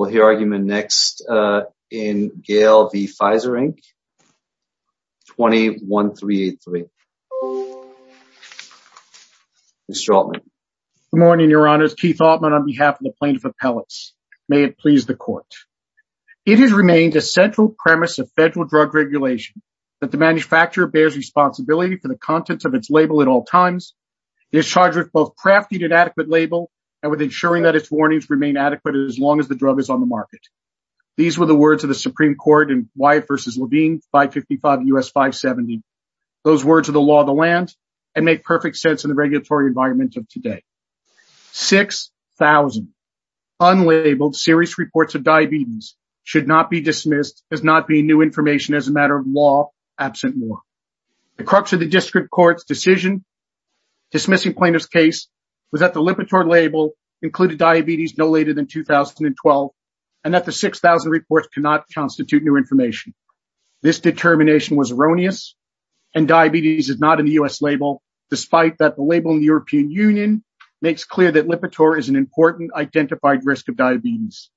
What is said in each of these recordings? We'll hear argument next in Gale v. Pfizer Inc., 21383. Mr. Altman. Good morning, Your Honors, Keith Altman on behalf of the Plaintiff Appellates. May it please the Court. It has remained a central premise of federal drug regulation that the manufacturer bears responsibility for the contents of its label at all times. It is charged with both crafting an adequate label and with ensuring that its warnings remain adequate as long as the drug is on the market. These were the words of the Supreme Court in Wyatt v. Levine, 555 U.S. 570. Those words are the law of the land and make perfect sense in the regulatory environment of today. 6,000 unlabeled serious reports of diabetes should not be dismissed as not being new information as a matter of law absent more. The crux of the district court's decision dismissing plaintiff's case was that the 6,000 reports cannot constitute new information. This determination was erroneous and diabetes is not in the U.S. label despite that the label in the European Union makes clear that Lipitor is an important identified risk of diabetes.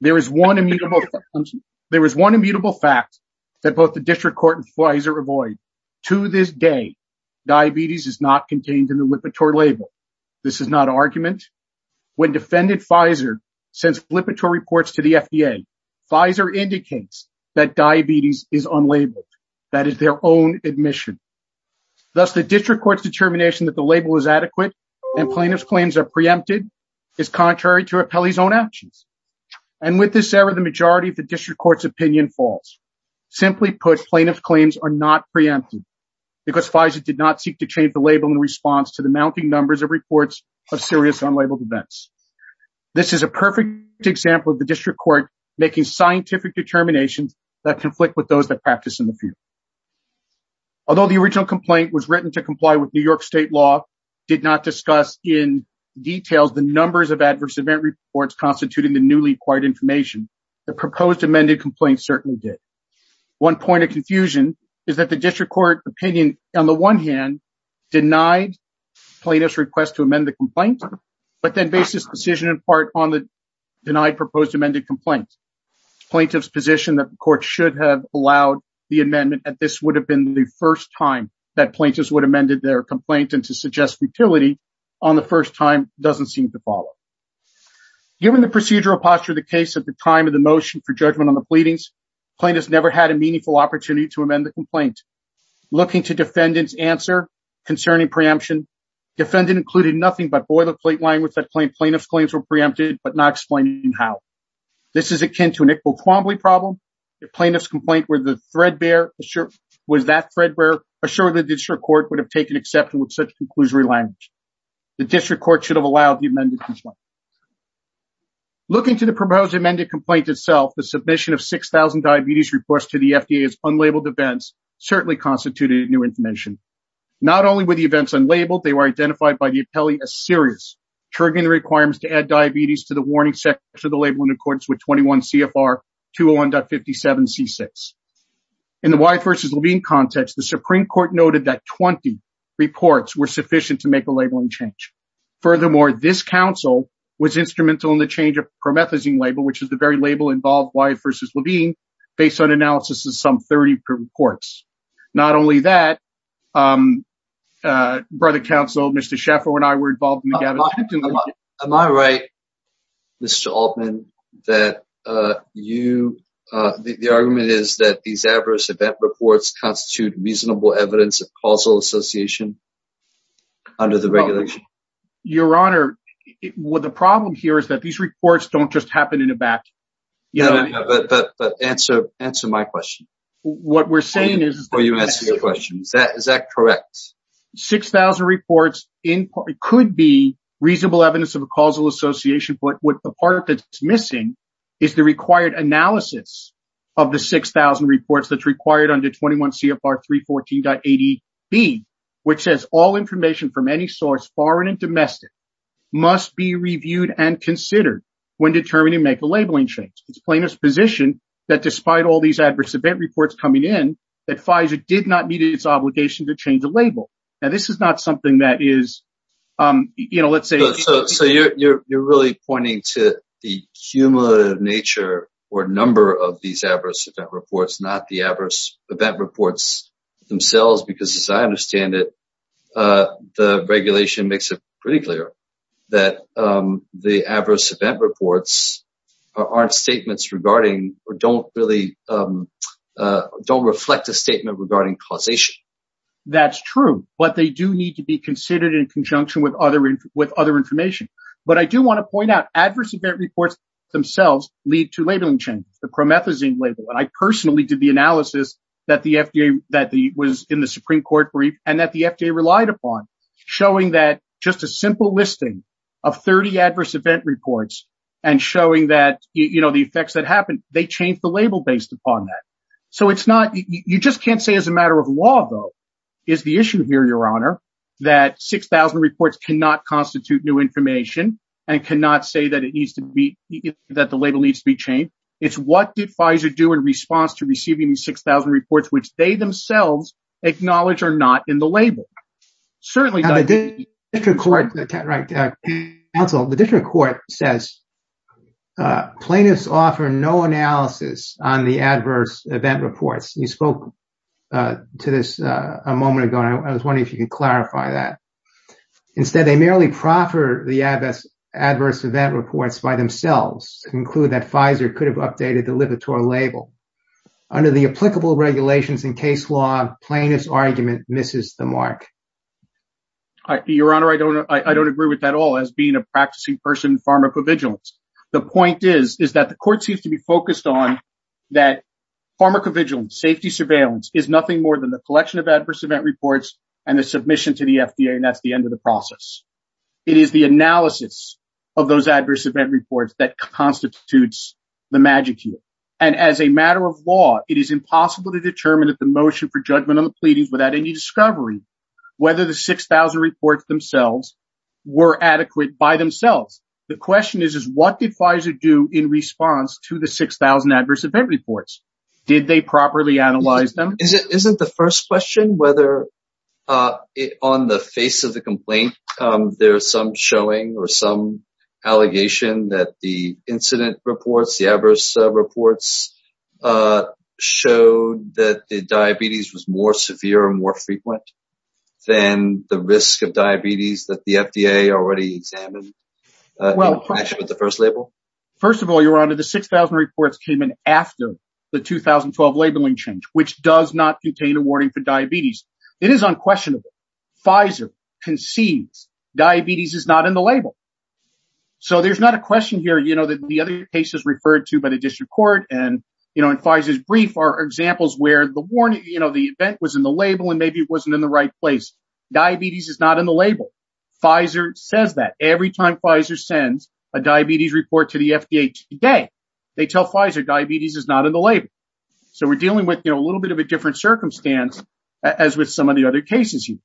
There is one immutable fact that both the district court and Pfizer avoid. To this day, diabetes is not contained in the Lipitor label. This is not an argument. When defendant Pfizer sends Lipitor reports to the FDA, Pfizer indicates that diabetes is unlabeled. That is their own admission. Thus, the district court's determination that the label is adequate and plaintiff's claims are preempted is contrary to Appelli's own actions. And with this error, the majority of the district court's opinion falls. Simply put, plaintiff's claims are not preempted because Pfizer did not seek to change the This is a perfect example of the district court making scientific determinations that conflict with those that practice in the field. Although the original complaint was written to comply with New York state law, did not discuss in detail the numbers of adverse event reports constituting the newly acquired information, the proposed amended complaint certainly did. One point of confusion is that the district court opinion, on the one hand, denied plaintiff's request to amend the complaint, but then based this decision in part on the denied proposed amended complaint. Plaintiff's position that the court should have allowed the amendment and this would have been the first time that plaintiffs would have amended their complaint and to suggest futility on the first time doesn't seem to follow. Given the procedural posture of the case at the time of the motion for judgment on the pleadings, plaintiffs never had a meaningful opportunity to amend the complaint. Looking to defendant's answer concerning preemption, defendant included nothing but boilerplate language that claimed plaintiff's claims were preempted, but not explaining how. This is akin to an Iqbal-Kwambley problem, if plaintiff's complaint was that threadbare, assuredly the district court would have taken exception with such conclusory language. The district court should have allowed the amended complaint. Looking to the proposed amended complaint itself, the submission of 6,000 diabetes reports to the FDA as unlabeled events certainly constituted new information. Not only were the events unlabeled, they were identified by the appellee as serious, triggering the requirements to add diabetes to the warning section of the label in accordance with 21 CFR 201.57C6. In the Wyatt v. Levine context, the Supreme Court noted that 20 reports were sufficient to make a labeling change. Furthermore, this counsel was instrumental in the change of the promethazine label, which some 30 per reports. Not only that, um, uh, brother counsel, Mr. Schaffer and I were involved in the gathering. Am I right, Mr. Altman, that, uh, you, uh, the, the argument is that these adverse event reports constitute reasonable evidence of causal association under the regulation? Your honor, what the problem here is that these reports don't just happen in a batch. Yeah, but, but, but answer, answer my question. What we're saying is, is that, is that correct? 6,000 reports in part, it could be reasonable evidence of a causal association, but what the part that's missing is the required analysis of the 6,000 reports that's required under 21 CFR 314.80B, which says all information from any source, foreign and domestic, must be reviewed and considered when determining make a labeling change. It's plaintiff's position that despite all these adverse event reports coming in, that Pfizer did not meet its obligation to change the label. Now, this is not something that is, um, you know, let's say, so you're, you're, you're really pointing to the cumulative nature or number of these adverse event reports, not the adverse event reports themselves, because as I understand it, uh, the regulation makes it pretty clear that, um, the adverse event reports aren't statements regarding, or don't really, um, uh, don't reflect a statement regarding causation. That's true, but they do need to be considered in conjunction with other, with other information. But I do want to point out adverse event reports themselves lead to labeling changes, the promethazine label. And I personally did the analysis that the FDA, that the was in the Supreme Court brief and that the FDA relied upon showing that just a simple listing of 30 adverse event reports and showing that, you know, the effects that happened, they changed the label based upon that. So it's not, you just can't say as a matter of law, though, is the issue here, your honor, that 6,000 reports cannot constitute new information and cannot say that it needs to be, that the label needs to be changed. It's what did Pfizer do in response to receiving the 6,000 reports, which they themselves acknowledge are not in the label. Certainly- Now the district court, right, uh, counsel, the district court says, uh, plaintiffs offer no analysis on the adverse event reports. You spoke, uh, to this, uh, a moment ago, and I was wondering if you could clarify that. Instead, they merely proffer the adverse, adverse event reports by themselves to conclude that Pfizer could have updated the liberator label. Under the applicable regulations in case law, plaintiff's argument misses the mark. Your honor, I don't, I don't agree with that at all as being a practicing person in pharmacovigilance. The point is, is that the court seems to be focused on that pharmacovigilance, safety surveillance is nothing more than the collection of adverse event reports and the submission to the FDA. And that's the end of the process. It is the analysis of those adverse event reports that constitutes the magic here. And as a matter of law, it is impossible to determine that the motion for judgment on the pleadings without any discovery, whether the 6,000 reports themselves were adequate by themselves. The question is, is what did Pfizer do in response to the 6,000 adverse event reports? Did they properly analyze them? Is it, isn't the first question whether, uh, on the face of the complaint, um, there's some showing or some allegation that the incident reports, the adverse reports, uh, showed that the diabetes was more severe and more frequent than the risk of diabetes that the FDA already examined, uh, actually with the first label. First of all, your honor, the 6,000 reports came in after the 2012 labeling change, which does not contain a warning for diabetes. It is unquestionable. Pfizer concedes diabetes is not in the label. So there's not a question here, you know, that the other cases referred to by the district court and, you know, in Pfizer's brief are examples where the warning, you know, the event was in the label and maybe it wasn't in the right place. Diabetes is not in the label. Pfizer says that every time Pfizer sends a diabetes report to the FDA today, they tell Pfizer diabetes is not in the label. So we're dealing with, you know, a little bit of a different circumstance as with some of the other cases here.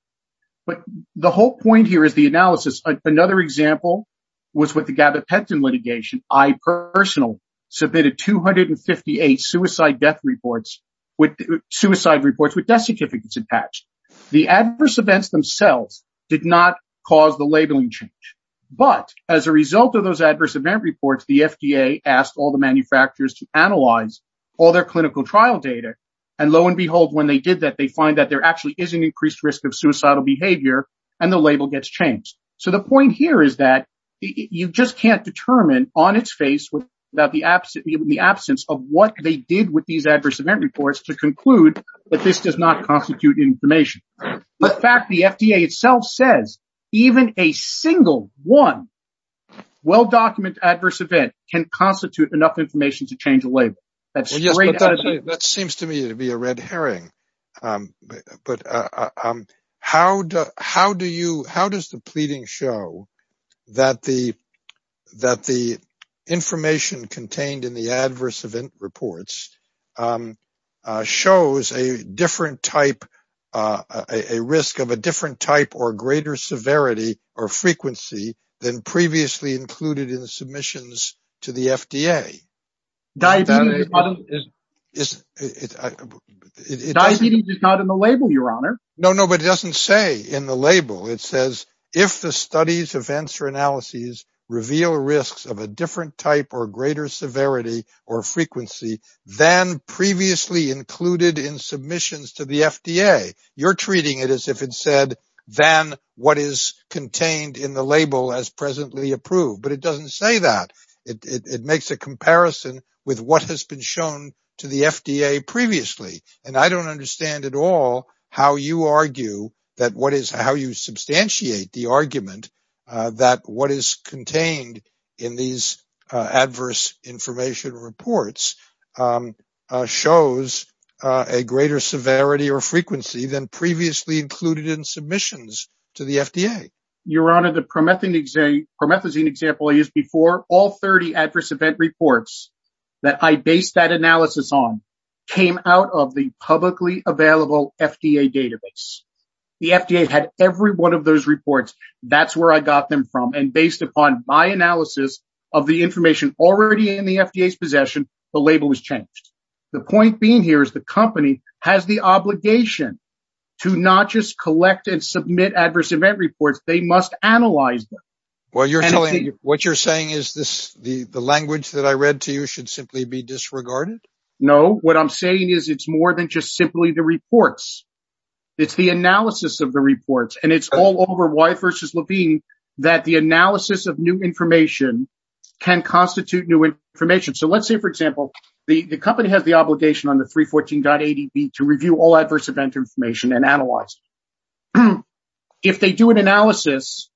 But the whole point here is the analysis. Another example was with the gabapentin litigation, I personal submitted 258 suicide death reports with suicide reports with death certificates attached. The adverse events themselves did not cause the labeling change, but as a result of those adverse event reports, the FDA asked all the manufacturers to analyze all their clinical trial data. And lo and behold, when they did that, they find that there actually is an increased risk of suicidal behavior and the label gets changed. So the point here is that you just can't determine on its face without the absence of what they did with these adverse event reports to conclude that this does not constitute information. The fact the FDA itself says even a single one well-documented adverse event can constitute enough information to change the label. That seems to me to be a red herring. But how does the pleading show that the information contained in the adverse event reports shows a different type, a risk of a different type or greater severity or frequency than previously included in the submissions to the FDA? Diabetes is not in the label, your honor. No, no, but it doesn't say in the label. It says if the studies, events, or analyses reveal risks of a different type or greater severity or frequency than previously included in submissions to the FDA, you're treating it as if it said than what is contained in the label as presently approved. But it doesn't say that. It makes a comparison with what has been shown to the FDA previously. And I don't understand at all how you argue that what is how you substantiate the argument that what is contained in these adverse information reports shows a greater severity or frequency than previously included in submissions to the FDA. Your honor, the promethazine example I used before, all 30 adverse event reports that I based that analysis on came out of the publicly available FDA database. The FDA had every one of those reports. That's where I got them from. And based upon my analysis of the information already in the FDA's possession, the label was changed. The point being here is the company has the obligation to not just collect and submit adverse event reports, they must analyze them. Well, you're telling me what you're saying is this the language that I read to you should simply be disregarded? No, what I'm saying is it's more than just simply the reports. It's the analysis of the reports. And it's all over why versus Levine that the analysis of new information can constitute new information. So let's say, for example, the company has the obligation on the 314.80 to review all adverse event information and analyze. If they do an analysis,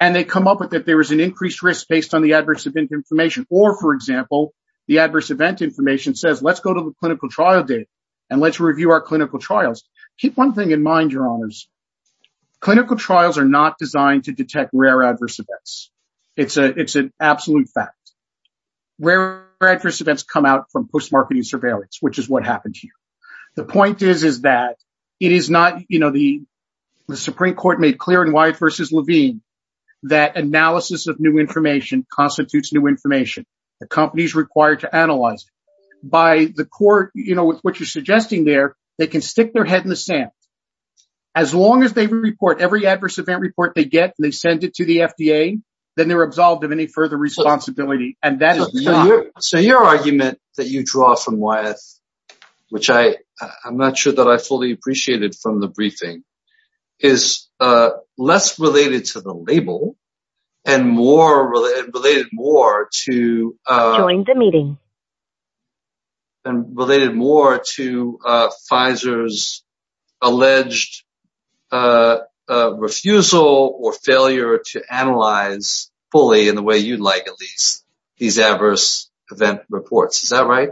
and they come up with it, there is an increased risk based on the adverse event information, or for example, the adverse event information says, let's go to the clinical trial date. And let's review our clinical trials. Keep one thing in mind, your honors. Clinical trials are not designed to detect rare adverse events. It's a it's an absolute fact. Rare adverse events come out from postmarketing surveillance, which is what happened here. The point is, is that it is not, you know, the Supreme Court made clear in Wyatt versus Levine, that analysis of new information constitutes new information. The company is required to analyze by the court, you know, with what you're suggesting there, they can stick their head in the sand. As long as they report every adverse event report they get, they send it to the FDA, then they're absolved of any further responsibility. And so your argument that you draw from Wyatt, which I, I'm not sure that I fully appreciated from the briefing, is less related to the label, and more related more to join the meeting. And related more to Pfizer's alleged refusal or failure to analyze fully in the way you'd these adverse event reports. Is that right?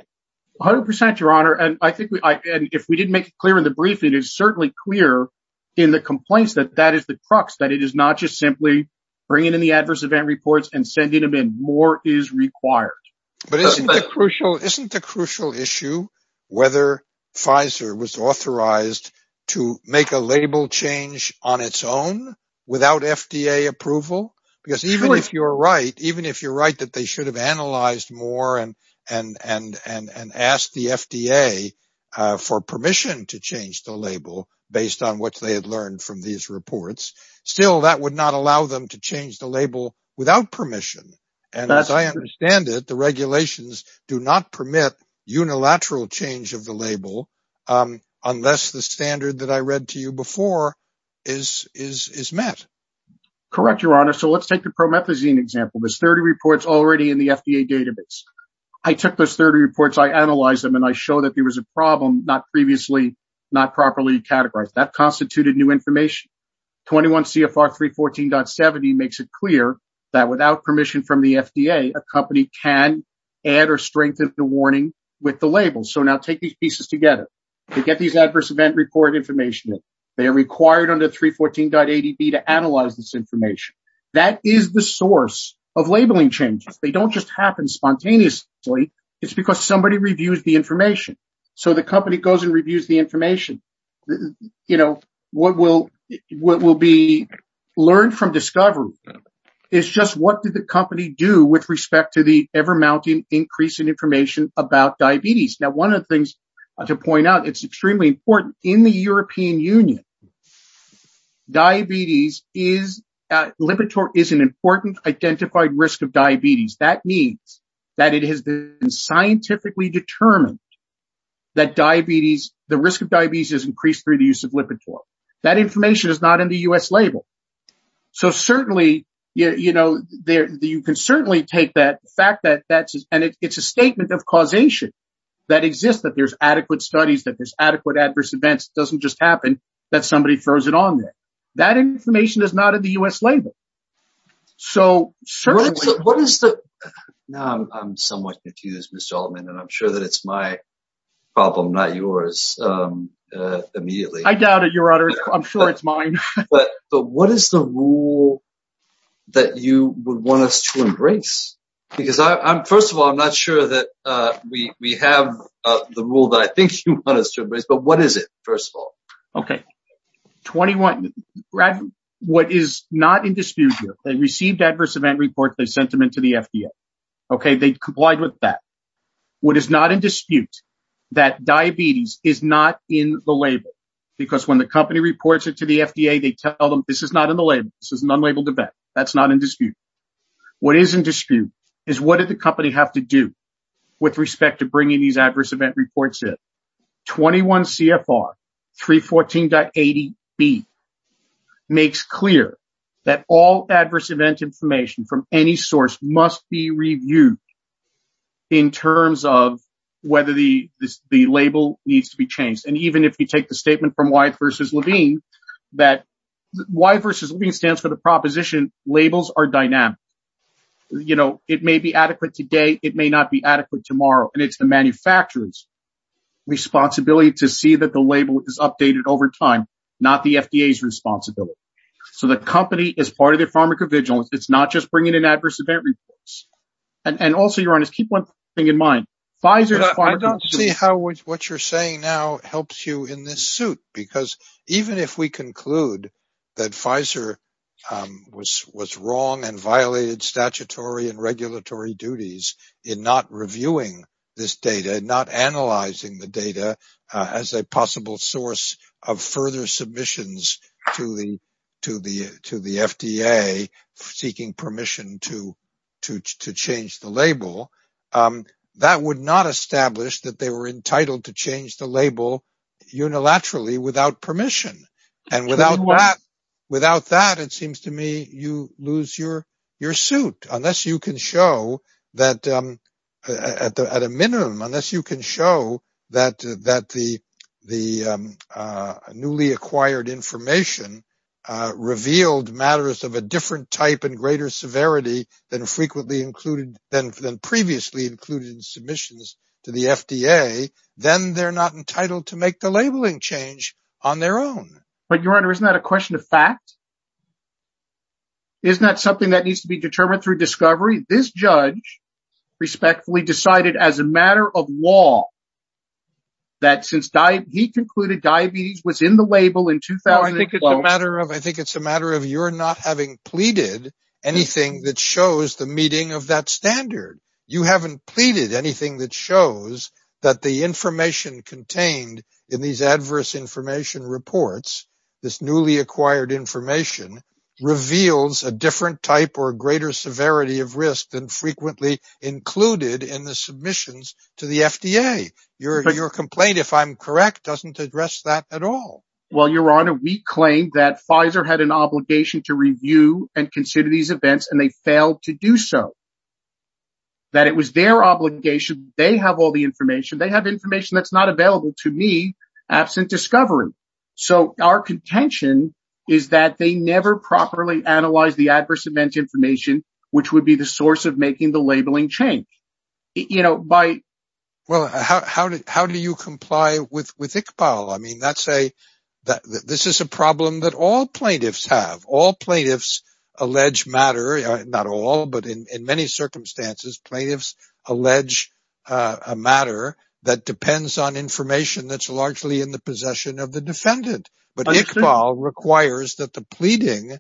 100 percent, your honor. And I think if we didn't make it clear in the briefing, it is certainly clear in the complaints that that is the crux, that it is not just simply bringing in the adverse event reports and sending them in. More is required. But isn't that crucial? Isn't the crucial issue whether Pfizer was authorized to make a label change on its own without FDA approval? Because even if you're right, even if you're right that they should have analyzed more and asked the FDA for permission to change the label based on what they had learned from these reports, still that would not allow them to change the label without permission. And as I understand it, the regulations do not permit unilateral change of the label unless the standard that I read to you before is met. Correct, your honor. So let's take the promethazine example. There's 30 reports already in the FDA database. I took those 30 reports, I analyzed them, and I showed that there was a problem not previously not properly categorized. That constituted new information. 21 CFR 314.70 makes it clear that without permission from the FDA, a company can add or strengthen the warning with the label. Now take these pieces together. They get these adverse event report information. They are required under 314.80b to analyze this information. That is the source of labeling changes. They don't just happen spontaneously. It's because somebody reviews the information. So the company goes and reviews the information. What will be learned from discovery is just what did the company do with respect to the ever mounting increase in information about diabetes. One of the things to point out, it's extremely important. In the European Union, Lipitor is an important identified risk of diabetes. That means that it has been scientifically determined that the risk of diabetes has increased through the use of Lipitor. That information is not in the U.S. label. So certainly, you know, you can certainly take that fact, and it's a statement of causation that exists, that there's adequate studies, that there's adequate adverse events. It doesn't just happen that somebody throws it on there. That information is not in the U.S. label. So what is the, now I'm somewhat confused, Mr. Altman, and I'm sure that it's my problem, not yours, immediately. I doubt it, your honor. I'm sure it's mine. But what is the rule that you would want us to embrace? Because first of all, I'm not sure that we have the rule that I think you want us to embrace, but what is it, first of all? Okay, 21, what is not in dispute here, they received adverse event reports, they sent them into the FDA. Okay, they complied with that. What is not in dispute, that diabetes is not in the label. Because when the company reports it to the FDA, they tell them this is not in the label. This is an unlabeled event. That's not in dispute. What is in dispute is what did the company have to do with respect to bringing these adverse event reports in. 21 CFR 314.80B makes clear that all adverse event information from any source must be reviewed in terms of whether the label needs to be changed. And even if you take the statement from Y versus Levine, that Y versus Levine stands for the proposition, labels are dynamic. You know, it may be adequate today, it may not be adequate tomorrow. And it's the manufacturer's responsibility to see that the label is updated over time, not the FDA's responsibility. So the company is part of the pharmacovigilance. It's not just bringing in adverse event reports. And also, your honor, keep one thing in mind. I don't see how what you're saying now helps you in this suit. Because even if we conclude that Pfizer was wrong and violated statutory and regulatory duties in not reviewing this data and not analyzing the data as a possible source of further submissions to the FDA seeking permission to change the label, that would not establish that they were entitled to change the label unilaterally without permission. And without that, it seems to me you lose your suit. Unless you can show that at a minimum, unless you can show that the newly acquired information revealed matters of a different type and greater severity than previously included in submissions to the FDA, then they're not entitled to make the labeling change on their own. But your honor, isn't that a question of fact? Isn't that something that needs to be determined through discovery? This judge respectfully decided as a matter of law that since he concluded diabetes was in the label in 2012. I think it's a matter of you're not having pleaded anything that shows the meeting of that standard. You haven't pleaded anything that shows that the information contained in these adverse information reports, this newly acquired information, reveals a different type or greater severity of risk than frequently included in the submissions to the FDA. Your complaint, if I'm correct, doesn't address that at all. Well, your honor, we claim that Pfizer had an obligation to review and consider these events and they failed to do so. That it was their obligation. They have all the information. They have information that's not available to me absent discovery. So our contention is that they never properly analyzed the adverse event information, which would be the source of making the labeling change. Well, how do you comply with Iqbal? I mean, this is a problem that all plaintiffs have. All plaintiffs allege matter. Not all, but in many circumstances, plaintiffs allege a matter that depends on information that's largely in the possession of the defendant. But Iqbal requires that the pleading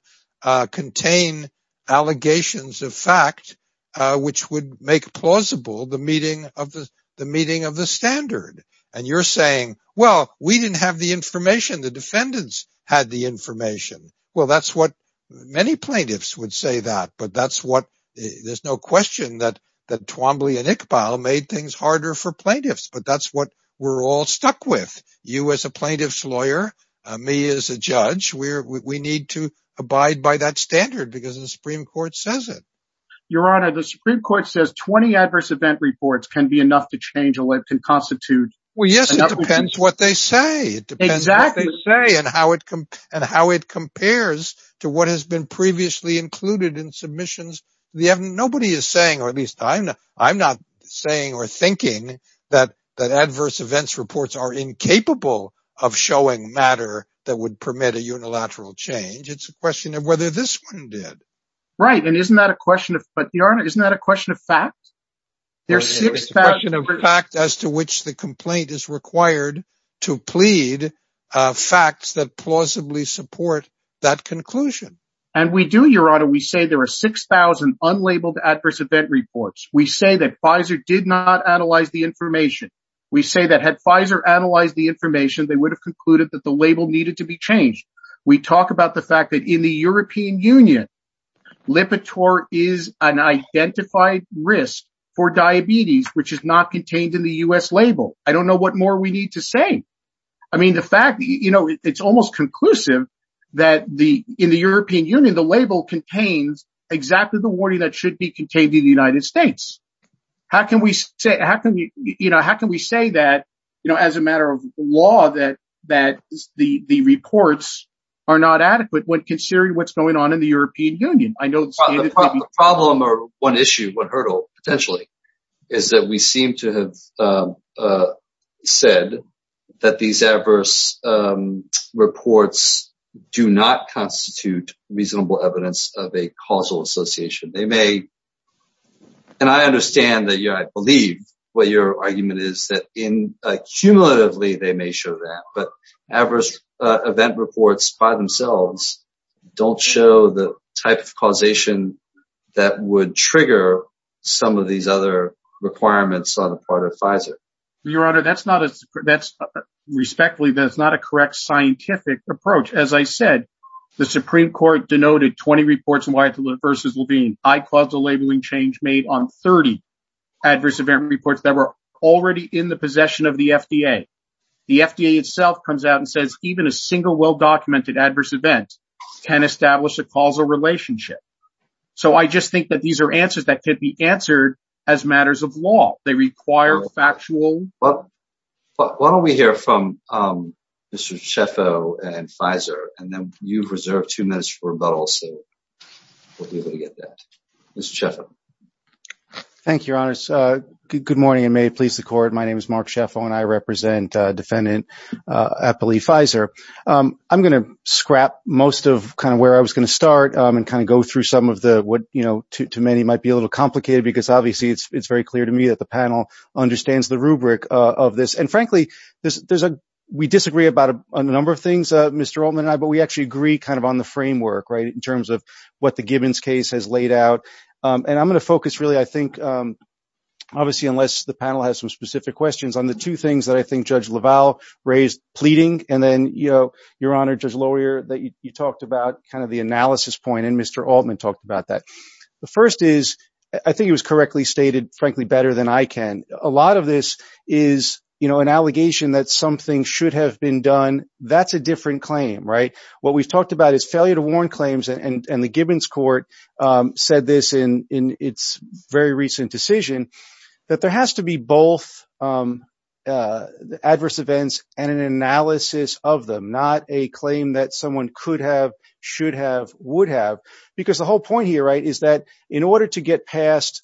contain allegations of fact, which would make plausible the meeting of the standard. And you're saying, well, we didn't have the information. The defendants had the information. Well, that's what many plaintiffs would say that. But that's what there's no question that Twombly and Iqbal made things harder for plaintiffs. But that's what we're all stuck with. You as a plaintiff's lawyer, me as a judge, we need to abide by that standard because the Supreme Court says it. Your honor, the Supreme Court says 20 adverse event reports can be enough to change. Well, it can constitute. Well, yes, it depends what they say. It depends what they say and how it and how it compares to what has been previously included in submissions. Nobody is saying, or at least I'm not, I'm not saying or thinking that that adverse events reports are incapable of showing matter that would permit a unilateral change. It's a question of whether this one did. Right. And isn't that a question? But your honor, isn't that a question of fact? There's a question of fact as to which the complaint is required to plead facts that plausibly support that conclusion. And we do, your honor. We say there are 6,000 unlabeled adverse event reports. We say that Pfizer did not analyze the information. We say that had Pfizer analyzed the information, they would have concluded that the label needed to be changed. We talk about the fact that in the European Union, Lipitor is an identified risk for diabetes, which is not contained in the US label. I don't know what more we need to say. I mean, the fact that, you know, it's almost conclusive that the, in the European Union, the label contains exactly the warning that should be contained in the United States. How can we say, how can we, you know, how can we say that, you know, as a matter of are not adequate when considering what's going on in the European Union? I know the problem or one issue, one hurdle potentially, is that we seem to have said that these adverse reports do not constitute reasonable evidence of a causal association. They may, and I understand that, you know, I believe what your argument is that accumulatively they may show that. But adverse event reports by themselves don't show the type of causation that would trigger some of these other requirements on the part of Pfizer. Your Honor, that's not a, respectfully, that's not a correct scientific approach. As I said, the Supreme Court denoted 20 reports in Wyatt versus Levine. I caused a labeling change made on 30 adverse event reports that were already in the possession of the FDA. The FDA itself comes out and says even a single well-documented adverse event can establish a causal relationship. So I just think that these are answers that could be answered as matters of law. They require a factual... Well, why don't we hear from Mr. Scheffo and Pfizer, and then you've reserved two minutes for rebuttal, so we'll be able to get that. Mr. Scheffo. Thank you, Your Honor. Good morning, and may it please the Court. My name is Mark Scheffo, and I represent Defendant Apolli Pfizer. I'm going to scrap most of where I was going to start and go through some of what to many might be a little complicated, because obviously it's very clear to me that the panel understands the rubric of this. And frankly, we disagree about a number of things, Mr. Altman and I, but we actually agree on the framework in terms of what the Gibbons case has laid out. And I'm going to focus really, I think, obviously, unless the panel has some specific questions, on the two things that I think Judge LaValle raised pleading. And then, Your Honor, Judge Lawyer, that you talked about kind of the analysis point, and Mr. Altman talked about that. The first is, I think it was correctly stated, frankly, better than I can. A lot of this is an allegation that something should have been done. That's a different claim, right? What we've talked about is failure to warn claims, and the Gibbons court said this in its very recent decision, that there has to be both adverse events and an analysis of them, not a claim that someone could have, should have, would have. Because the whole point here, right, is that in order to get past,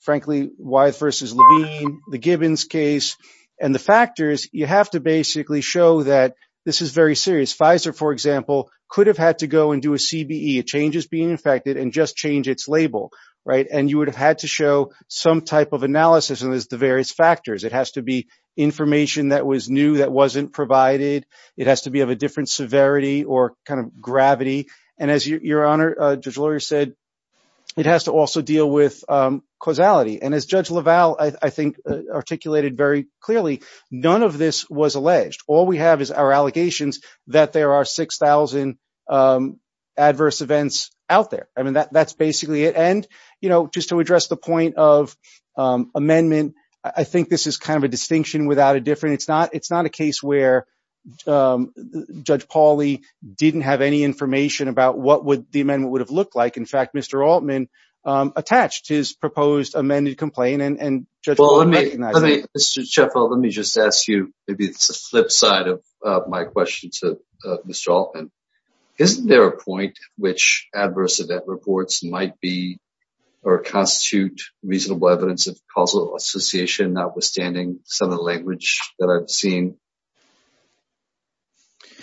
frankly, Wythe versus Levine, the Gibbons case, and the factors, you have to basically show that this is very serious. Pfizer, for example, could have had to go and do a CBE, a changes being infected, and just change its label, right? And you would have had to show some type of analysis, and there's the various factors. It has to be information that was new, that wasn't provided. It has to be of a different severity or kind of gravity. And as Your Honor, Judge Lawyer said, it has to also deal with causality. And as Judge LaValle, I think, articulated very clearly, none of this was alleged. All we have is our allegations that there are 6,000 adverse events out there. I mean, that's basically it. And, you know, just to address the point of amendment, I think this is kind of a distinction without a difference. It's not a case where Judge Pauley didn't have any information about what the amendment would have looked like. In fact, Mr. Altman attached his proposed amended complaint, and Judge LaValle recognized it. Mr. Sheffield, let me just ask you, maybe it's a flip side of my question to Mr. Altman. Isn't there a point which adverse event reports might be or constitute reasonable evidence of causal association, notwithstanding some of the language that I've seen?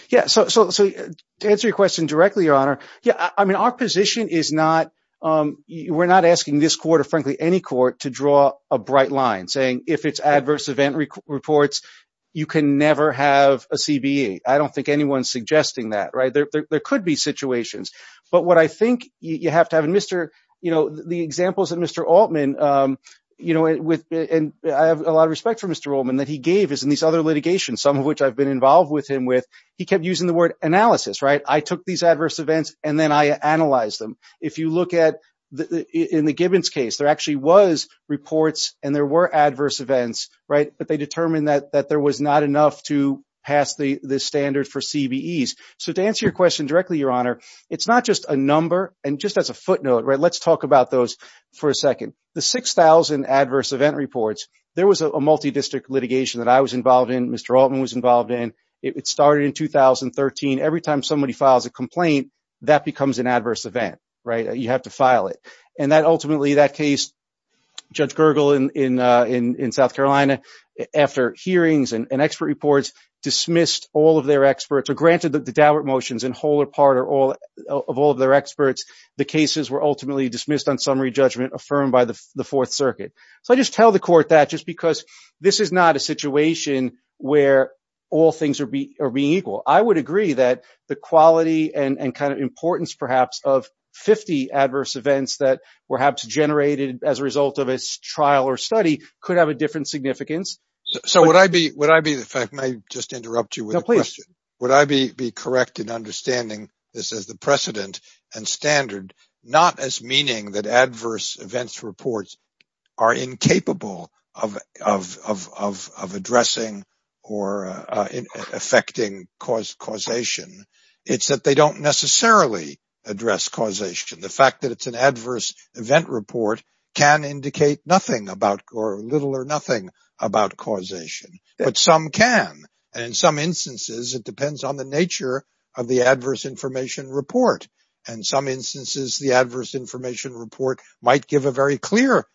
Yeah, so to answer your question directly, Your Honor, yeah, I mean, our position is we're not asking this court, or frankly, any court, to draw a bright line saying, if it's adverse event reports, you can never have a CBE. I don't think anyone's suggesting that, right? There could be situations. But what I think you have to have, and the examples that Mr. Altman, and I have a lot of respect for Mr. Altman, that he gave is in these other litigations, some of which I've been involved with him with, he kept using the word analysis, right? I took these adverse events, and then I analyzed them. If you look at, in the Gibbons case, there actually was reports, and there were adverse events, right? But they determined that there was not enough to pass the standard for CBEs. So to answer your question directly, Your Honor, it's not just a number, and just as a footnote, right? Let's talk about those for a second. The 6,000 adverse event reports, there was a multi-district litigation that I was involved in, Mr. Altman was involved in. It started in 2013. Every time somebody files a complaint, that becomes an adverse event, right? You have to file it. And that ultimately, that case, Judge Gergel in South Carolina, after hearings and expert reports, dismissed all of their experts, or granted that the Dalbert motions in whole or part of all of their experts, the cases were ultimately dismissed on summary judgment affirmed by the Fourth Circuit. So I just tell the court that just because this is not a situation where all things are being equal. I would agree that the quality and kind of importance, perhaps, of 50 adverse events that were generated as a result of a trial or study could have a different significance. So would I be, if I may just interrupt you with a question, would I be correct in understanding this as the precedent and standard, not as meaning that adverse events reports are incapable of addressing or affecting causation? It's that they don't necessarily address causation. The fact that it's an adverse event report can indicate nothing about or little or nothing about causation, but some can. And in some instances, it depends on the nature of the adverse information report. And some instances, the adverse information report might give a very clear,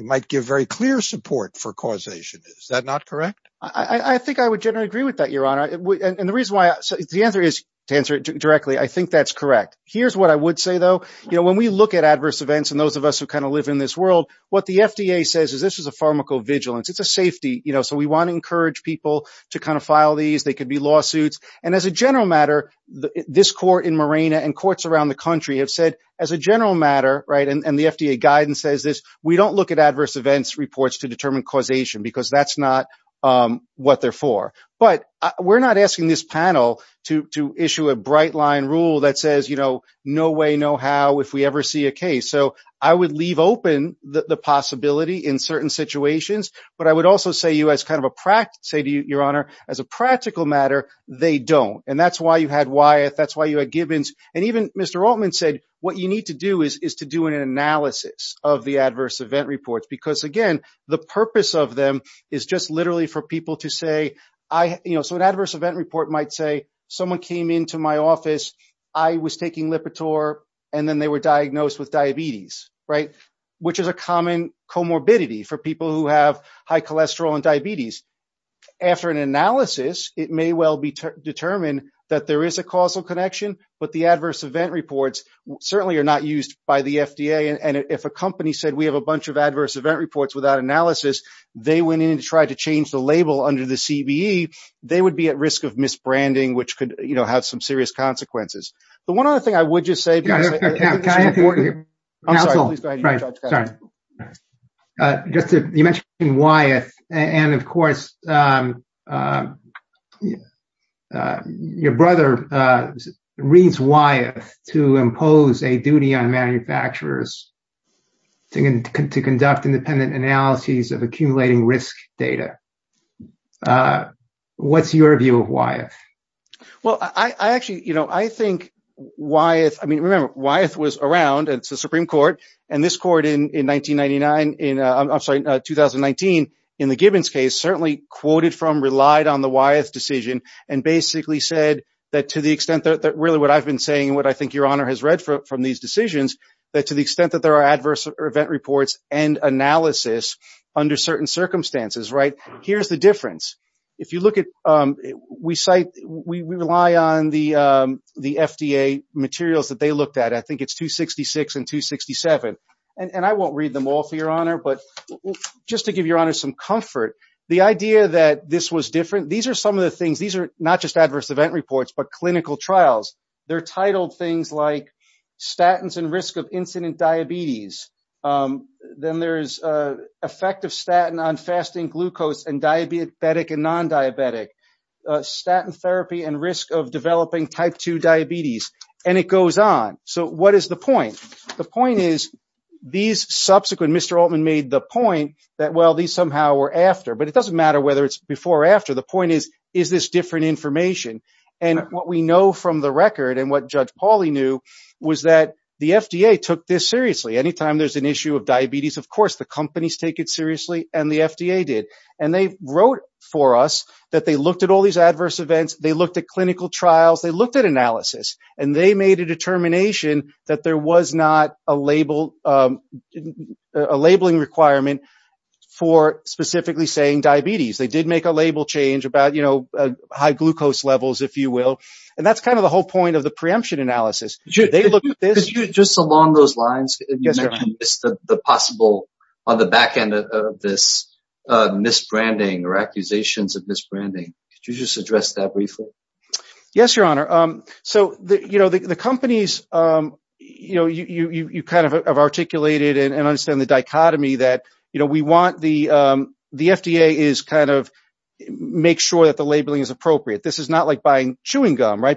might give very clear support for causation. Is that not correct? I think I would generally agree with that, Your Honor. And the reason why the answer is to answer it directly. I think that's correct. Here's what I would say, though. You know, when we look at adverse events and those of us who kind of live in this world, what the FDA says is this is a pharmacovigilance. It's a safety, you know, so we want to encourage people to kind of file these. They could be lawsuits. And as a general matter, this court in Marena and courts around the country have said as a general matter, right, and the FDA guidance says this, we don't look at adverse events reports to determine causation because that's not what they're for. But we're not asking this panel to issue a bright line rule that says, you know, no way, no how if we ever see a case. So I would leave open the possibility in certain situations. But I would also say to you, Your Honor, as a practical matter, they don't. And that's why you had Wyeth. That's why you had Gibbons. And even Mr. Altman said what you need to do is to do an analysis of the adverse event reports because, again, the purpose of them is just literally for people to say, you know, so an adverse event report might say someone came into my office, I was taking Lipitor, and then they were diagnosed with diabetes, right, which is a common comorbidity for people who have high cholesterol and diabetes. After an analysis, it may well be determined that there is a causal connection, but the adverse event reports certainly are not used by the FDA. And if a company said we have a bunch of adverse event reports without analysis, they went in to try to change the label under the CBE, they would be at risk of misbranding, which could, you know, have some serious consequences. The one other thing I would just say. I'm sorry, please go ahead. Just, you mentioned Wyeth, and of course, your brother reads Wyeth to impose a duty on manufacturers to conduct independent analyses of accumulating risk data. What's your view of Wyeth? Well, I actually, you know, I think Wyeth, I mean, remember, Wyeth was around, it's the Supreme Court, and this court in 1999, in, I'm sorry, 2019, in the Gibbons case, certainly quoted from, relied on the Wyeth decision, and basically said that to the extent that really what I've been saying, what I think your Honor has read from these decisions, that to the extent that there are adverse event reports and analysis under certain circumstances, right, here's the difference. If you look at, we cite, we rely on the FDA materials that they looked at. I think it's 266 and 267, and I won't read them all for your Honor, but just to give your Honor some comfort, the idea that this was different, these are some of the things, these are not just adverse event reports, but clinical trials. They're titled things like statins and risk of incident diabetes. Then there's effect of statin on fasting glucose and diabetic and non-diabetic. Statin therapy and risk of developing type 2 diabetes, and it goes on. So what is the point? The point is, these subsequent, Mr. Altman made the point that, well, these somehow were after, but it doesn't matter whether it's before or after. The point is, is this different information? And what we know from the record, and what Judge Pauly knew, was that the FDA took this issue of diabetes. Of course, the companies take it seriously, and the FDA did. And they wrote for us that they looked at all these adverse events, they looked at clinical trials, they looked at analysis, and they made a determination that there was not a labeling requirement for specifically saying diabetes. They did make a label change about high glucose levels, if you will. And that's kind of the whole point of the preemption analysis. Could you, just along those lines, you mentioned the possible, on the back end of this, misbranding or accusations of misbranding. Could you just address that briefly? Yes, Your Honor. So, you know, the companies, you know, you kind of have articulated and understand the dichotomy that, you know, we want the, the FDA is kind of, make sure that the labeling is appropriate. This is not like buying chewing gum, right?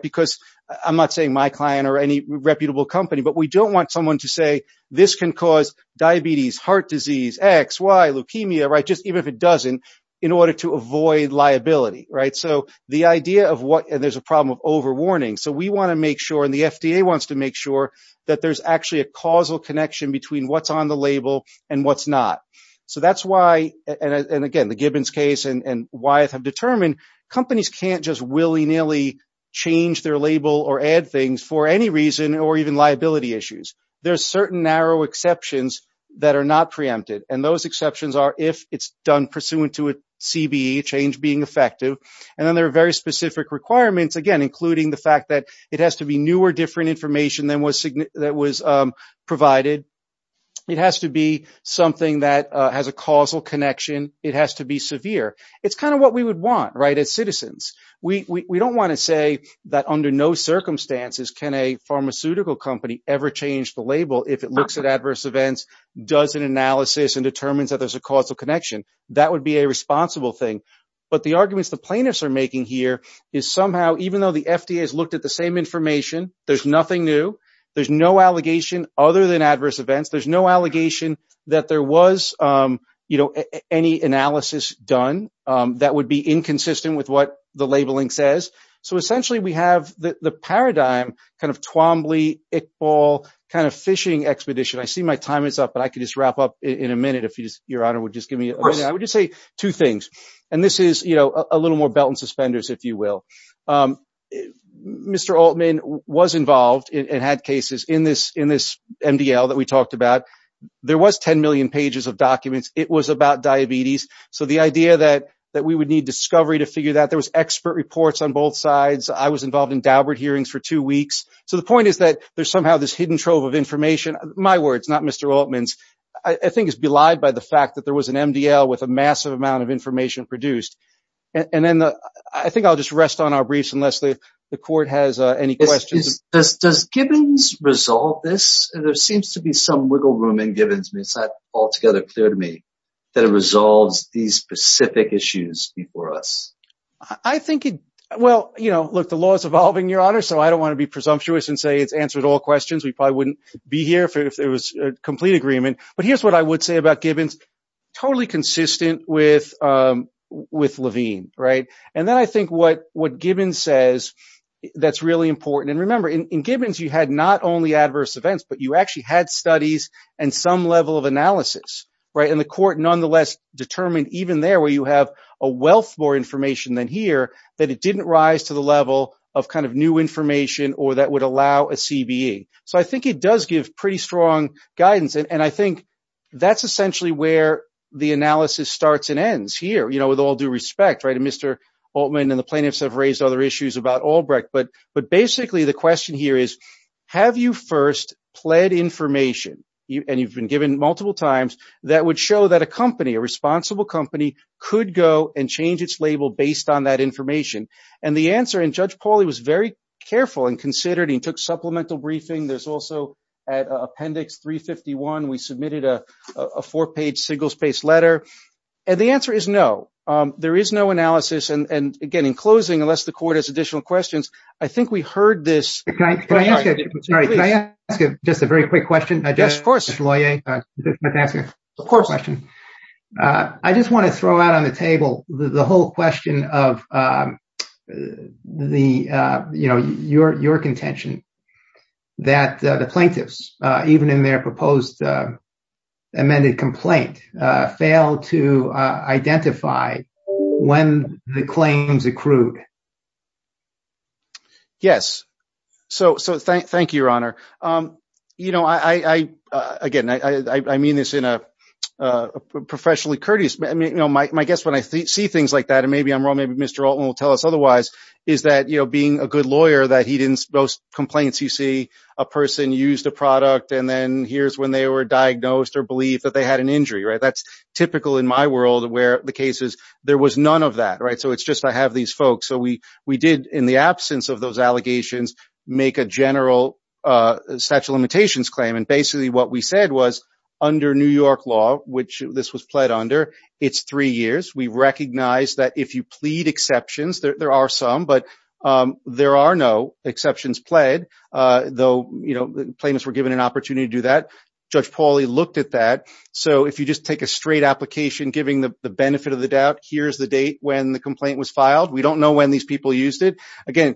I'm not saying my client or any reputable company, but we don't want someone to say, this can cause diabetes, heart disease, X, Y, leukemia, right? Just even if it doesn't, in order to avoid liability, right? So the idea of what, and there's a problem of overwarning. So we want to make sure, and the FDA wants to make sure that there's actually a causal connection between what's on the label and what's not. So that's why, and again, the Gibbons case and Wyeth have determined, companies can't just willy-nilly change their label or add things for any reason or even liability issues. There's certain narrow exceptions that are not preempted. And those exceptions are if it's done pursuant to a CBE, change being effective. And then there are very specific requirements, again, including the fact that it has to be newer, different information than was provided. It has to be something that has a causal connection. It has to be severe. It's kind of what we would want, right? We don't want to say that under no circumstances can a pharmaceutical company ever change the label if it looks at adverse events, does an analysis and determines that there's a causal connection. That would be a responsible thing. But the arguments the plaintiffs are making here is somehow, even though the FDA has looked at the same information, there's nothing new. There's no allegation other than adverse events. There's no allegation that there was any analysis done that would be inconsistent with what the labeling says. So essentially, we have the paradigm kind of Twombly, Iqbal, kind of fishing expedition. I see my time is up, but I could just wrap up in a minute if Your Honor would just give me a minute. I would just say two things. And this is a little more belt and suspenders, if you will. Mr. Altman was involved and had cases in this MDL that we talked about. There was 10 million pages of documents. It was about diabetes. So the idea that we would need discovery to figure that there was expert reports on both sides. I was involved in Daubert hearings for two weeks. So the point is that there's somehow this hidden trove of information. My words, not Mr. Altman's, I think is belied by the fact that there was an MDL with a massive amount of information produced. And then I think I'll just rest on our briefs unless the court has any questions. Does Gibbons resolve this? There seems to be some wiggle room in Gibbons. It's not altogether clear to me that it resolves these specific issues before us. I think, well, you know, look, the law is evolving, Your Honor. So I don't want to be presumptuous and say it's answered all questions. We probably wouldn't be here if it was a complete agreement. But here's what I would say about Gibbons. Totally consistent with Levine, right? And then I think what Gibbons says that's really important. And remember, in Gibbons, you had not only adverse events, but you actually had studies and some level of analysis, right? And the court nonetheless determined even there where you have a wealth more information than here, that it didn't rise to the level of kind of new information or that would allow a CBE. So I think it does give pretty strong guidance. And I think that's essentially where the analysis starts and ends here, you know, with all due respect, right? And Mr. Altman and the plaintiffs have raised other issues about Albrecht. But basically, the question here is, have you first pled information, and you've been given multiple times, that would show that a company, a responsible company, could go and change its label based on that information? And the answer, and Judge Pauly was very careful and considered. He took supplemental briefing. There's also at Appendix 351, we submitted a four-page signals-based letter. And the answer is no. There is no analysis. And again, in closing, unless the court has additional questions, I think we heard this. Can I ask you just a very quick question? Yes, of course. Mr. Loyer, I just want to throw out on the table the whole question of your contention that the plaintiffs, even in their proposed amended complaint, failed to identify when the claims accrued. Yes, so thank you, Your Honor. You know, I, again, I mean this in a professionally courteous, I mean, you know, my guess when I see things like that, and maybe I'm wrong, maybe Mr. Altman will tell us otherwise, is that, you know, being a good lawyer, that he didn't, those complaints you see, a person used a product, and then here's when they were diagnosed or believed that they had an injury, right? That's typical in my world where the case is, there was none of that, right? So it's just, I have these folks. So we did, in the absence of those allegations, make a general statute of limitations claim. And basically what we said was, under New York law, which this was pled under, it's three years. We recognize that if you plead exceptions, there are some, but there are no exceptions pled, though, you know, plaintiffs were given an opportunity to do that. Judge Pauly looked at that. So if you just take a straight application, giving the benefit of the doubt, here's the date when the complaint was filed. We don't know when these people used it. Again,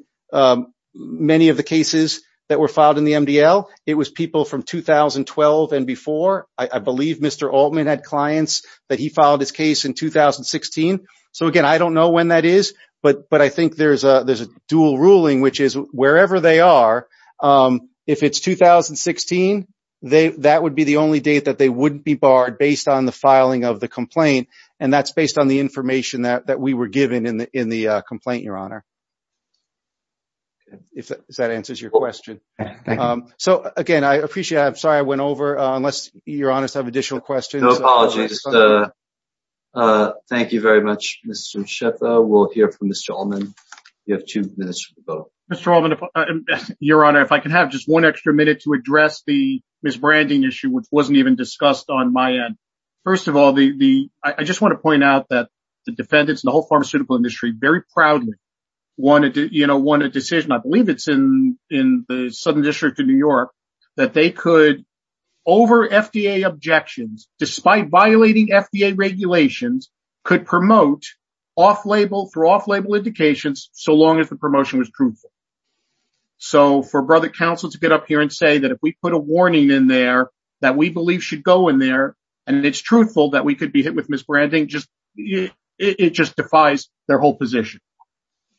many of the cases that were filed in the MDL, it was people from 2012 and before. I believe Mr. Altman had clients that he filed his case in 2016. So again, I don't know when that is, but I think there's a dual ruling, which is wherever they are, if it's 2016, that would be the only date that they wouldn't be barred based on the filing of the complaint. And that's based on the information that we were given in the complaint, Your Honor. If that answers your question. So again, I appreciate it. I'm sorry I went over, unless Your Honors have additional questions. No apologies. Thank you very much, Mr. Schiff. We'll hear from Mr. Altman. You have two minutes for the vote. Mr. Altman, Your Honor, if I can have just one extra minute to address the misbranding issue, which wasn't even discussed on my end. First of all, I just want to point out that the defendants and the whole pharmaceutical industry very proudly wanted a decision. I believe it's in the Southern District of New York that they could, over FDA objections, despite violating FDA regulations, could promote through off-label indications so long as the So for Brother Counsel to get up here and say that if we put a warning in there that we believe should go in there, and it's truthful that we could be hit with misbranding, it just defies their whole position.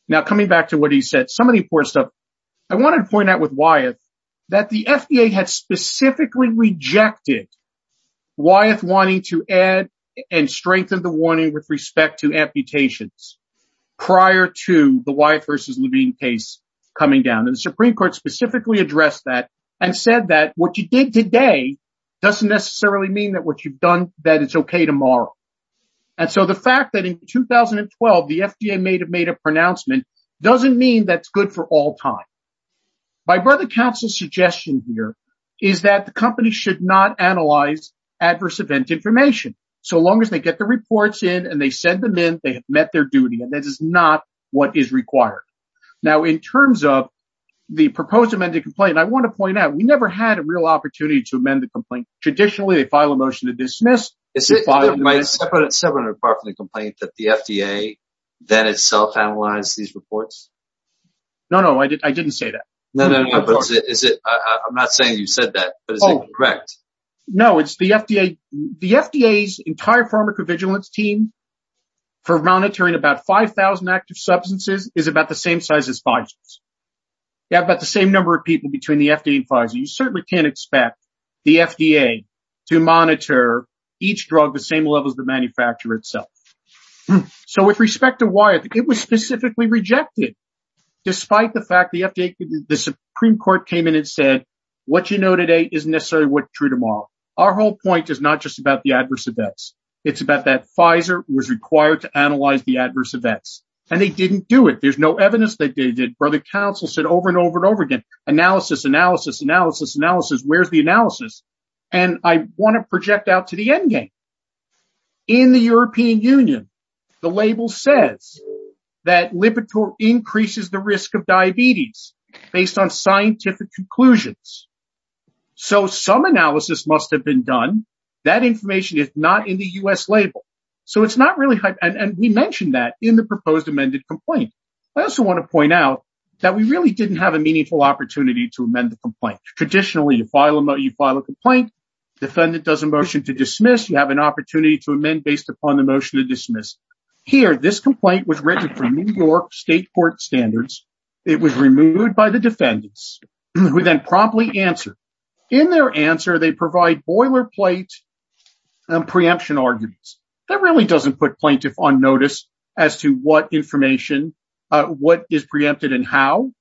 Now, coming back to what he said, some of the important stuff, I wanted to point out with Wyeth that the FDA had specifically rejected Wyeth wanting to add and strengthen the warning with respect to amputations prior to the Wyeth versus Levine case coming down. And the Supreme Court specifically addressed that and said that what you did today doesn't necessarily mean that what you've done, that it's okay tomorrow. And so the fact that in 2012, the FDA may have made a pronouncement doesn't mean that's good for all time. My Brother Counsel's suggestion here is that the company should not analyze adverse event information. So long as they get the reports in and they send them in, they have met their duty, and that is not what is required. Now, in terms of the proposed amended complaint, I want to point out, we never had a real opportunity to amend the complaint. Traditionally, they file a motion to dismiss. Is it separate and apart from the complaint that the FDA then itself analyzed these reports? No, no, I didn't say that. No, no, but is it, I'm not saying you said that, but is it correct? No, it's the FDA. The FDA's entire pharmacovigilance team for monitoring about 5,000 active substances is about the same size as Pfizer's. They have about the same number of people between the FDA and Pfizer. You certainly can't expect the FDA to monitor each drug the same level as the manufacturer itself. So with respect to why it was specifically rejected, despite the fact the FDA, the Supreme Court came in and said, what you know today isn't necessarily what's true tomorrow. Our whole point is not just about the adverse events. It's about that Pfizer was required to analyze the adverse events, and they didn't do it. There's no evidence that they did. Brother Counsel said over and over and over again, analysis, analysis, analysis, analysis, where's the analysis? And I want to project out to the endgame. In the European Union, the label says that Lipitor increases the risk of diabetes based on scientific conclusions. So some analysis must have been done. That information is not in the U.S. label. So it's not really, and we mentioned that in the proposed amended complaint. I also want to point out that we really didn't have a meaningful opportunity to amend the complaint. Traditionally, you file a complaint. Defendant does a motion to dismiss. You have an opportunity to amend based upon the motion to dismiss. Here, this complaint was written for New York State Court standards. It was removed by the defendants, who then promptly answered. In their answer, they provide boilerplate preemption arguments. That really doesn't put plaintiff on notice as to what information, what is preempted and how.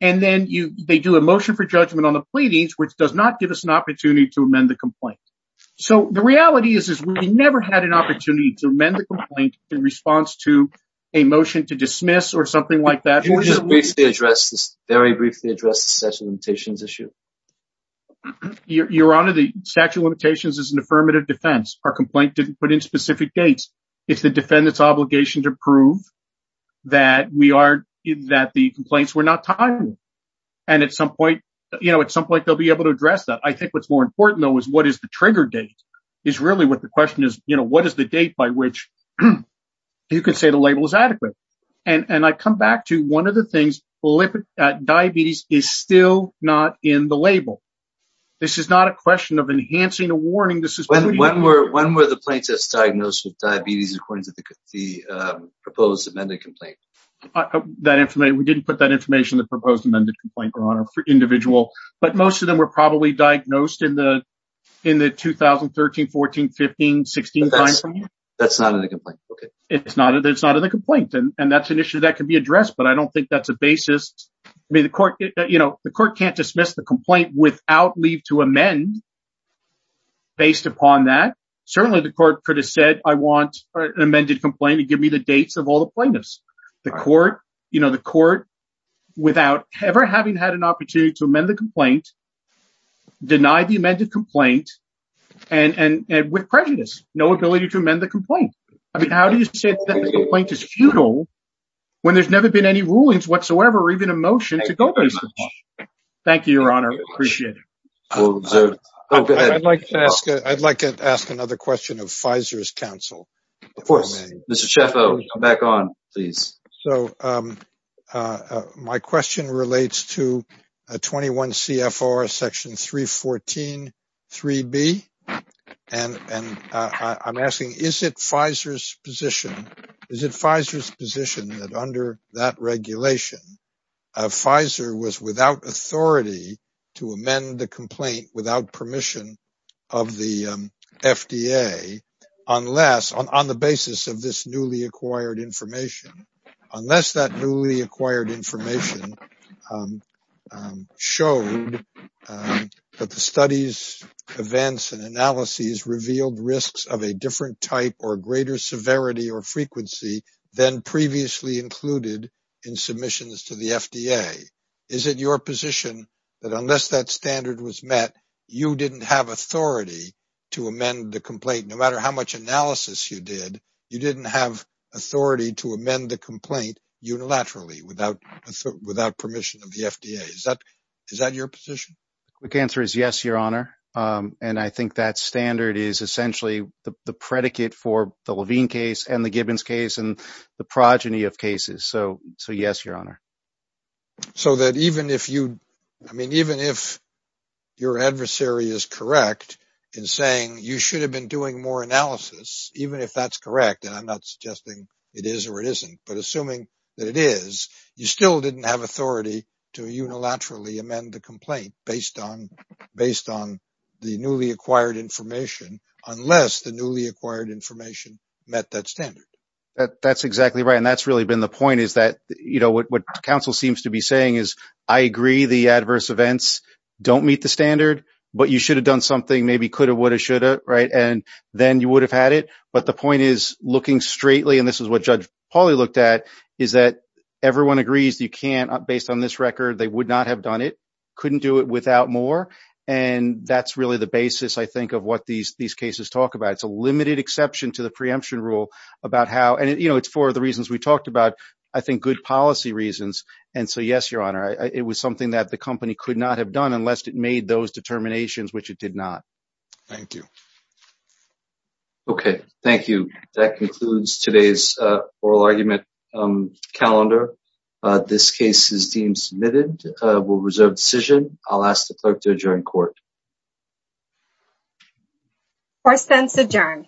And then they do a motion for judgment on the pleadings, which does not give us an opportunity to amend the complaint. So the reality is, is we never had an opportunity to amend the complaint in response to a motion to dismiss or something like that. Can we just briefly address this, very briefly address the statute of limitations issue? Your Honor, the statute of limitations is an affirmative defense. Our complaint didn't put in specific dates. It's the defendant's obligation to prove that we are, that the complaints were not timely. And at some point, you know, at some point, they'll be able to address that. I think what's more important, though, is what is the trigger date is really what the question is. You know, what is the date by which you can say the label is adequate? And I come back to one of the things, diabetes is still not in the label. This is not a question of enhancing a warning. When were the plaintiffs diagnosed with diabetes according to the proposed amended complaint? We didn't put that information in the proposed amended complaint, Your Honor, for individual, but most of them were probably diagnosed in the 2013, 14, 15, 16 time frame. That's not in the complaint, okay. It's not in the complaint. And that's an issue that can be addressed. But I don't think that's a basis. I mean, the court, you know, the court can't dismiss the complaint without leave to amend. Based upon that, certainly the court could have said, I want an amended complaint to give me the dates of all the plaintiffs. The court, you know, the court without ever having had an opportunity to amend the complaint, denied the amended complaint and with prejudice, no ability to amend the complaint. I mean, how do you say that the complaint is futile when there's never been any rulings whatsoever, or even a motion to go through? Thank you, Your Honor. Appreciate it. I'd like to ask another question of Pfizer's counsel. Of course. Mr. Chaffo, back on, please. So my question relates to 21 CFR section 314, 3B. And I'm asking, is it Pfizer's position, is it Pfizer's position that under that regulation, Pfizer was without authority to amend the complaint without permission of the FDA, unless, on the basis of this newly acquired information, unless that newly acquired information showed that the studies, events, and analyses revealed risks of a different type or greater severity or frequency than previously included in submissions to the FDA? Is it your position that unless that standard was met, you didn't have authority to amend the complaint, no matter how much analysis you did, you didn't have authority to amend the complaint unilaterally without permission of the FDA? Is that your position? The answer is yes, Your Honor. And I think that standard is essentially the predicate for the Levine case and the Gibbons case and the progeny of cases. So yes, Your Honor. So that even if you, I mean, even if your adversary is correct in saying you should have been doing more analysis, even if that's correct, and I'm not suggesting it is or it isn't, but assuming that it is, you still didn't have authority to unilaterally amend the complaint based on the newly acquired information, unless the newly acquired information met that standard. That's exactly right. And that's really been the point is that, you know, what counsel seems to be saying is I agree the adverse events don't meet the standard, but you should have done something, maybe could have, would have, should have, right? And then you would have had it. But the point is looking straightly, and this is what Judge Pauly looked at, is that everyone agrees you can't, based on this record, they would not have done it, couldn't do it without more. And that's really the basis, I think, of what these cases talk about. It's a limited exception to the preemption rule about how, and you know, it's for the reasons we talked about, I think good policy reasons. And so yes, Your Honor, it was something that the company could not have done unless it made those determinations, which it did not. Thank you. Okay. Thank you. That concludes today's oral argument calendar. This case is deemed submitted. We'll reserve decision. I'll ask the clerk to adjourn court. Courts then adjourn.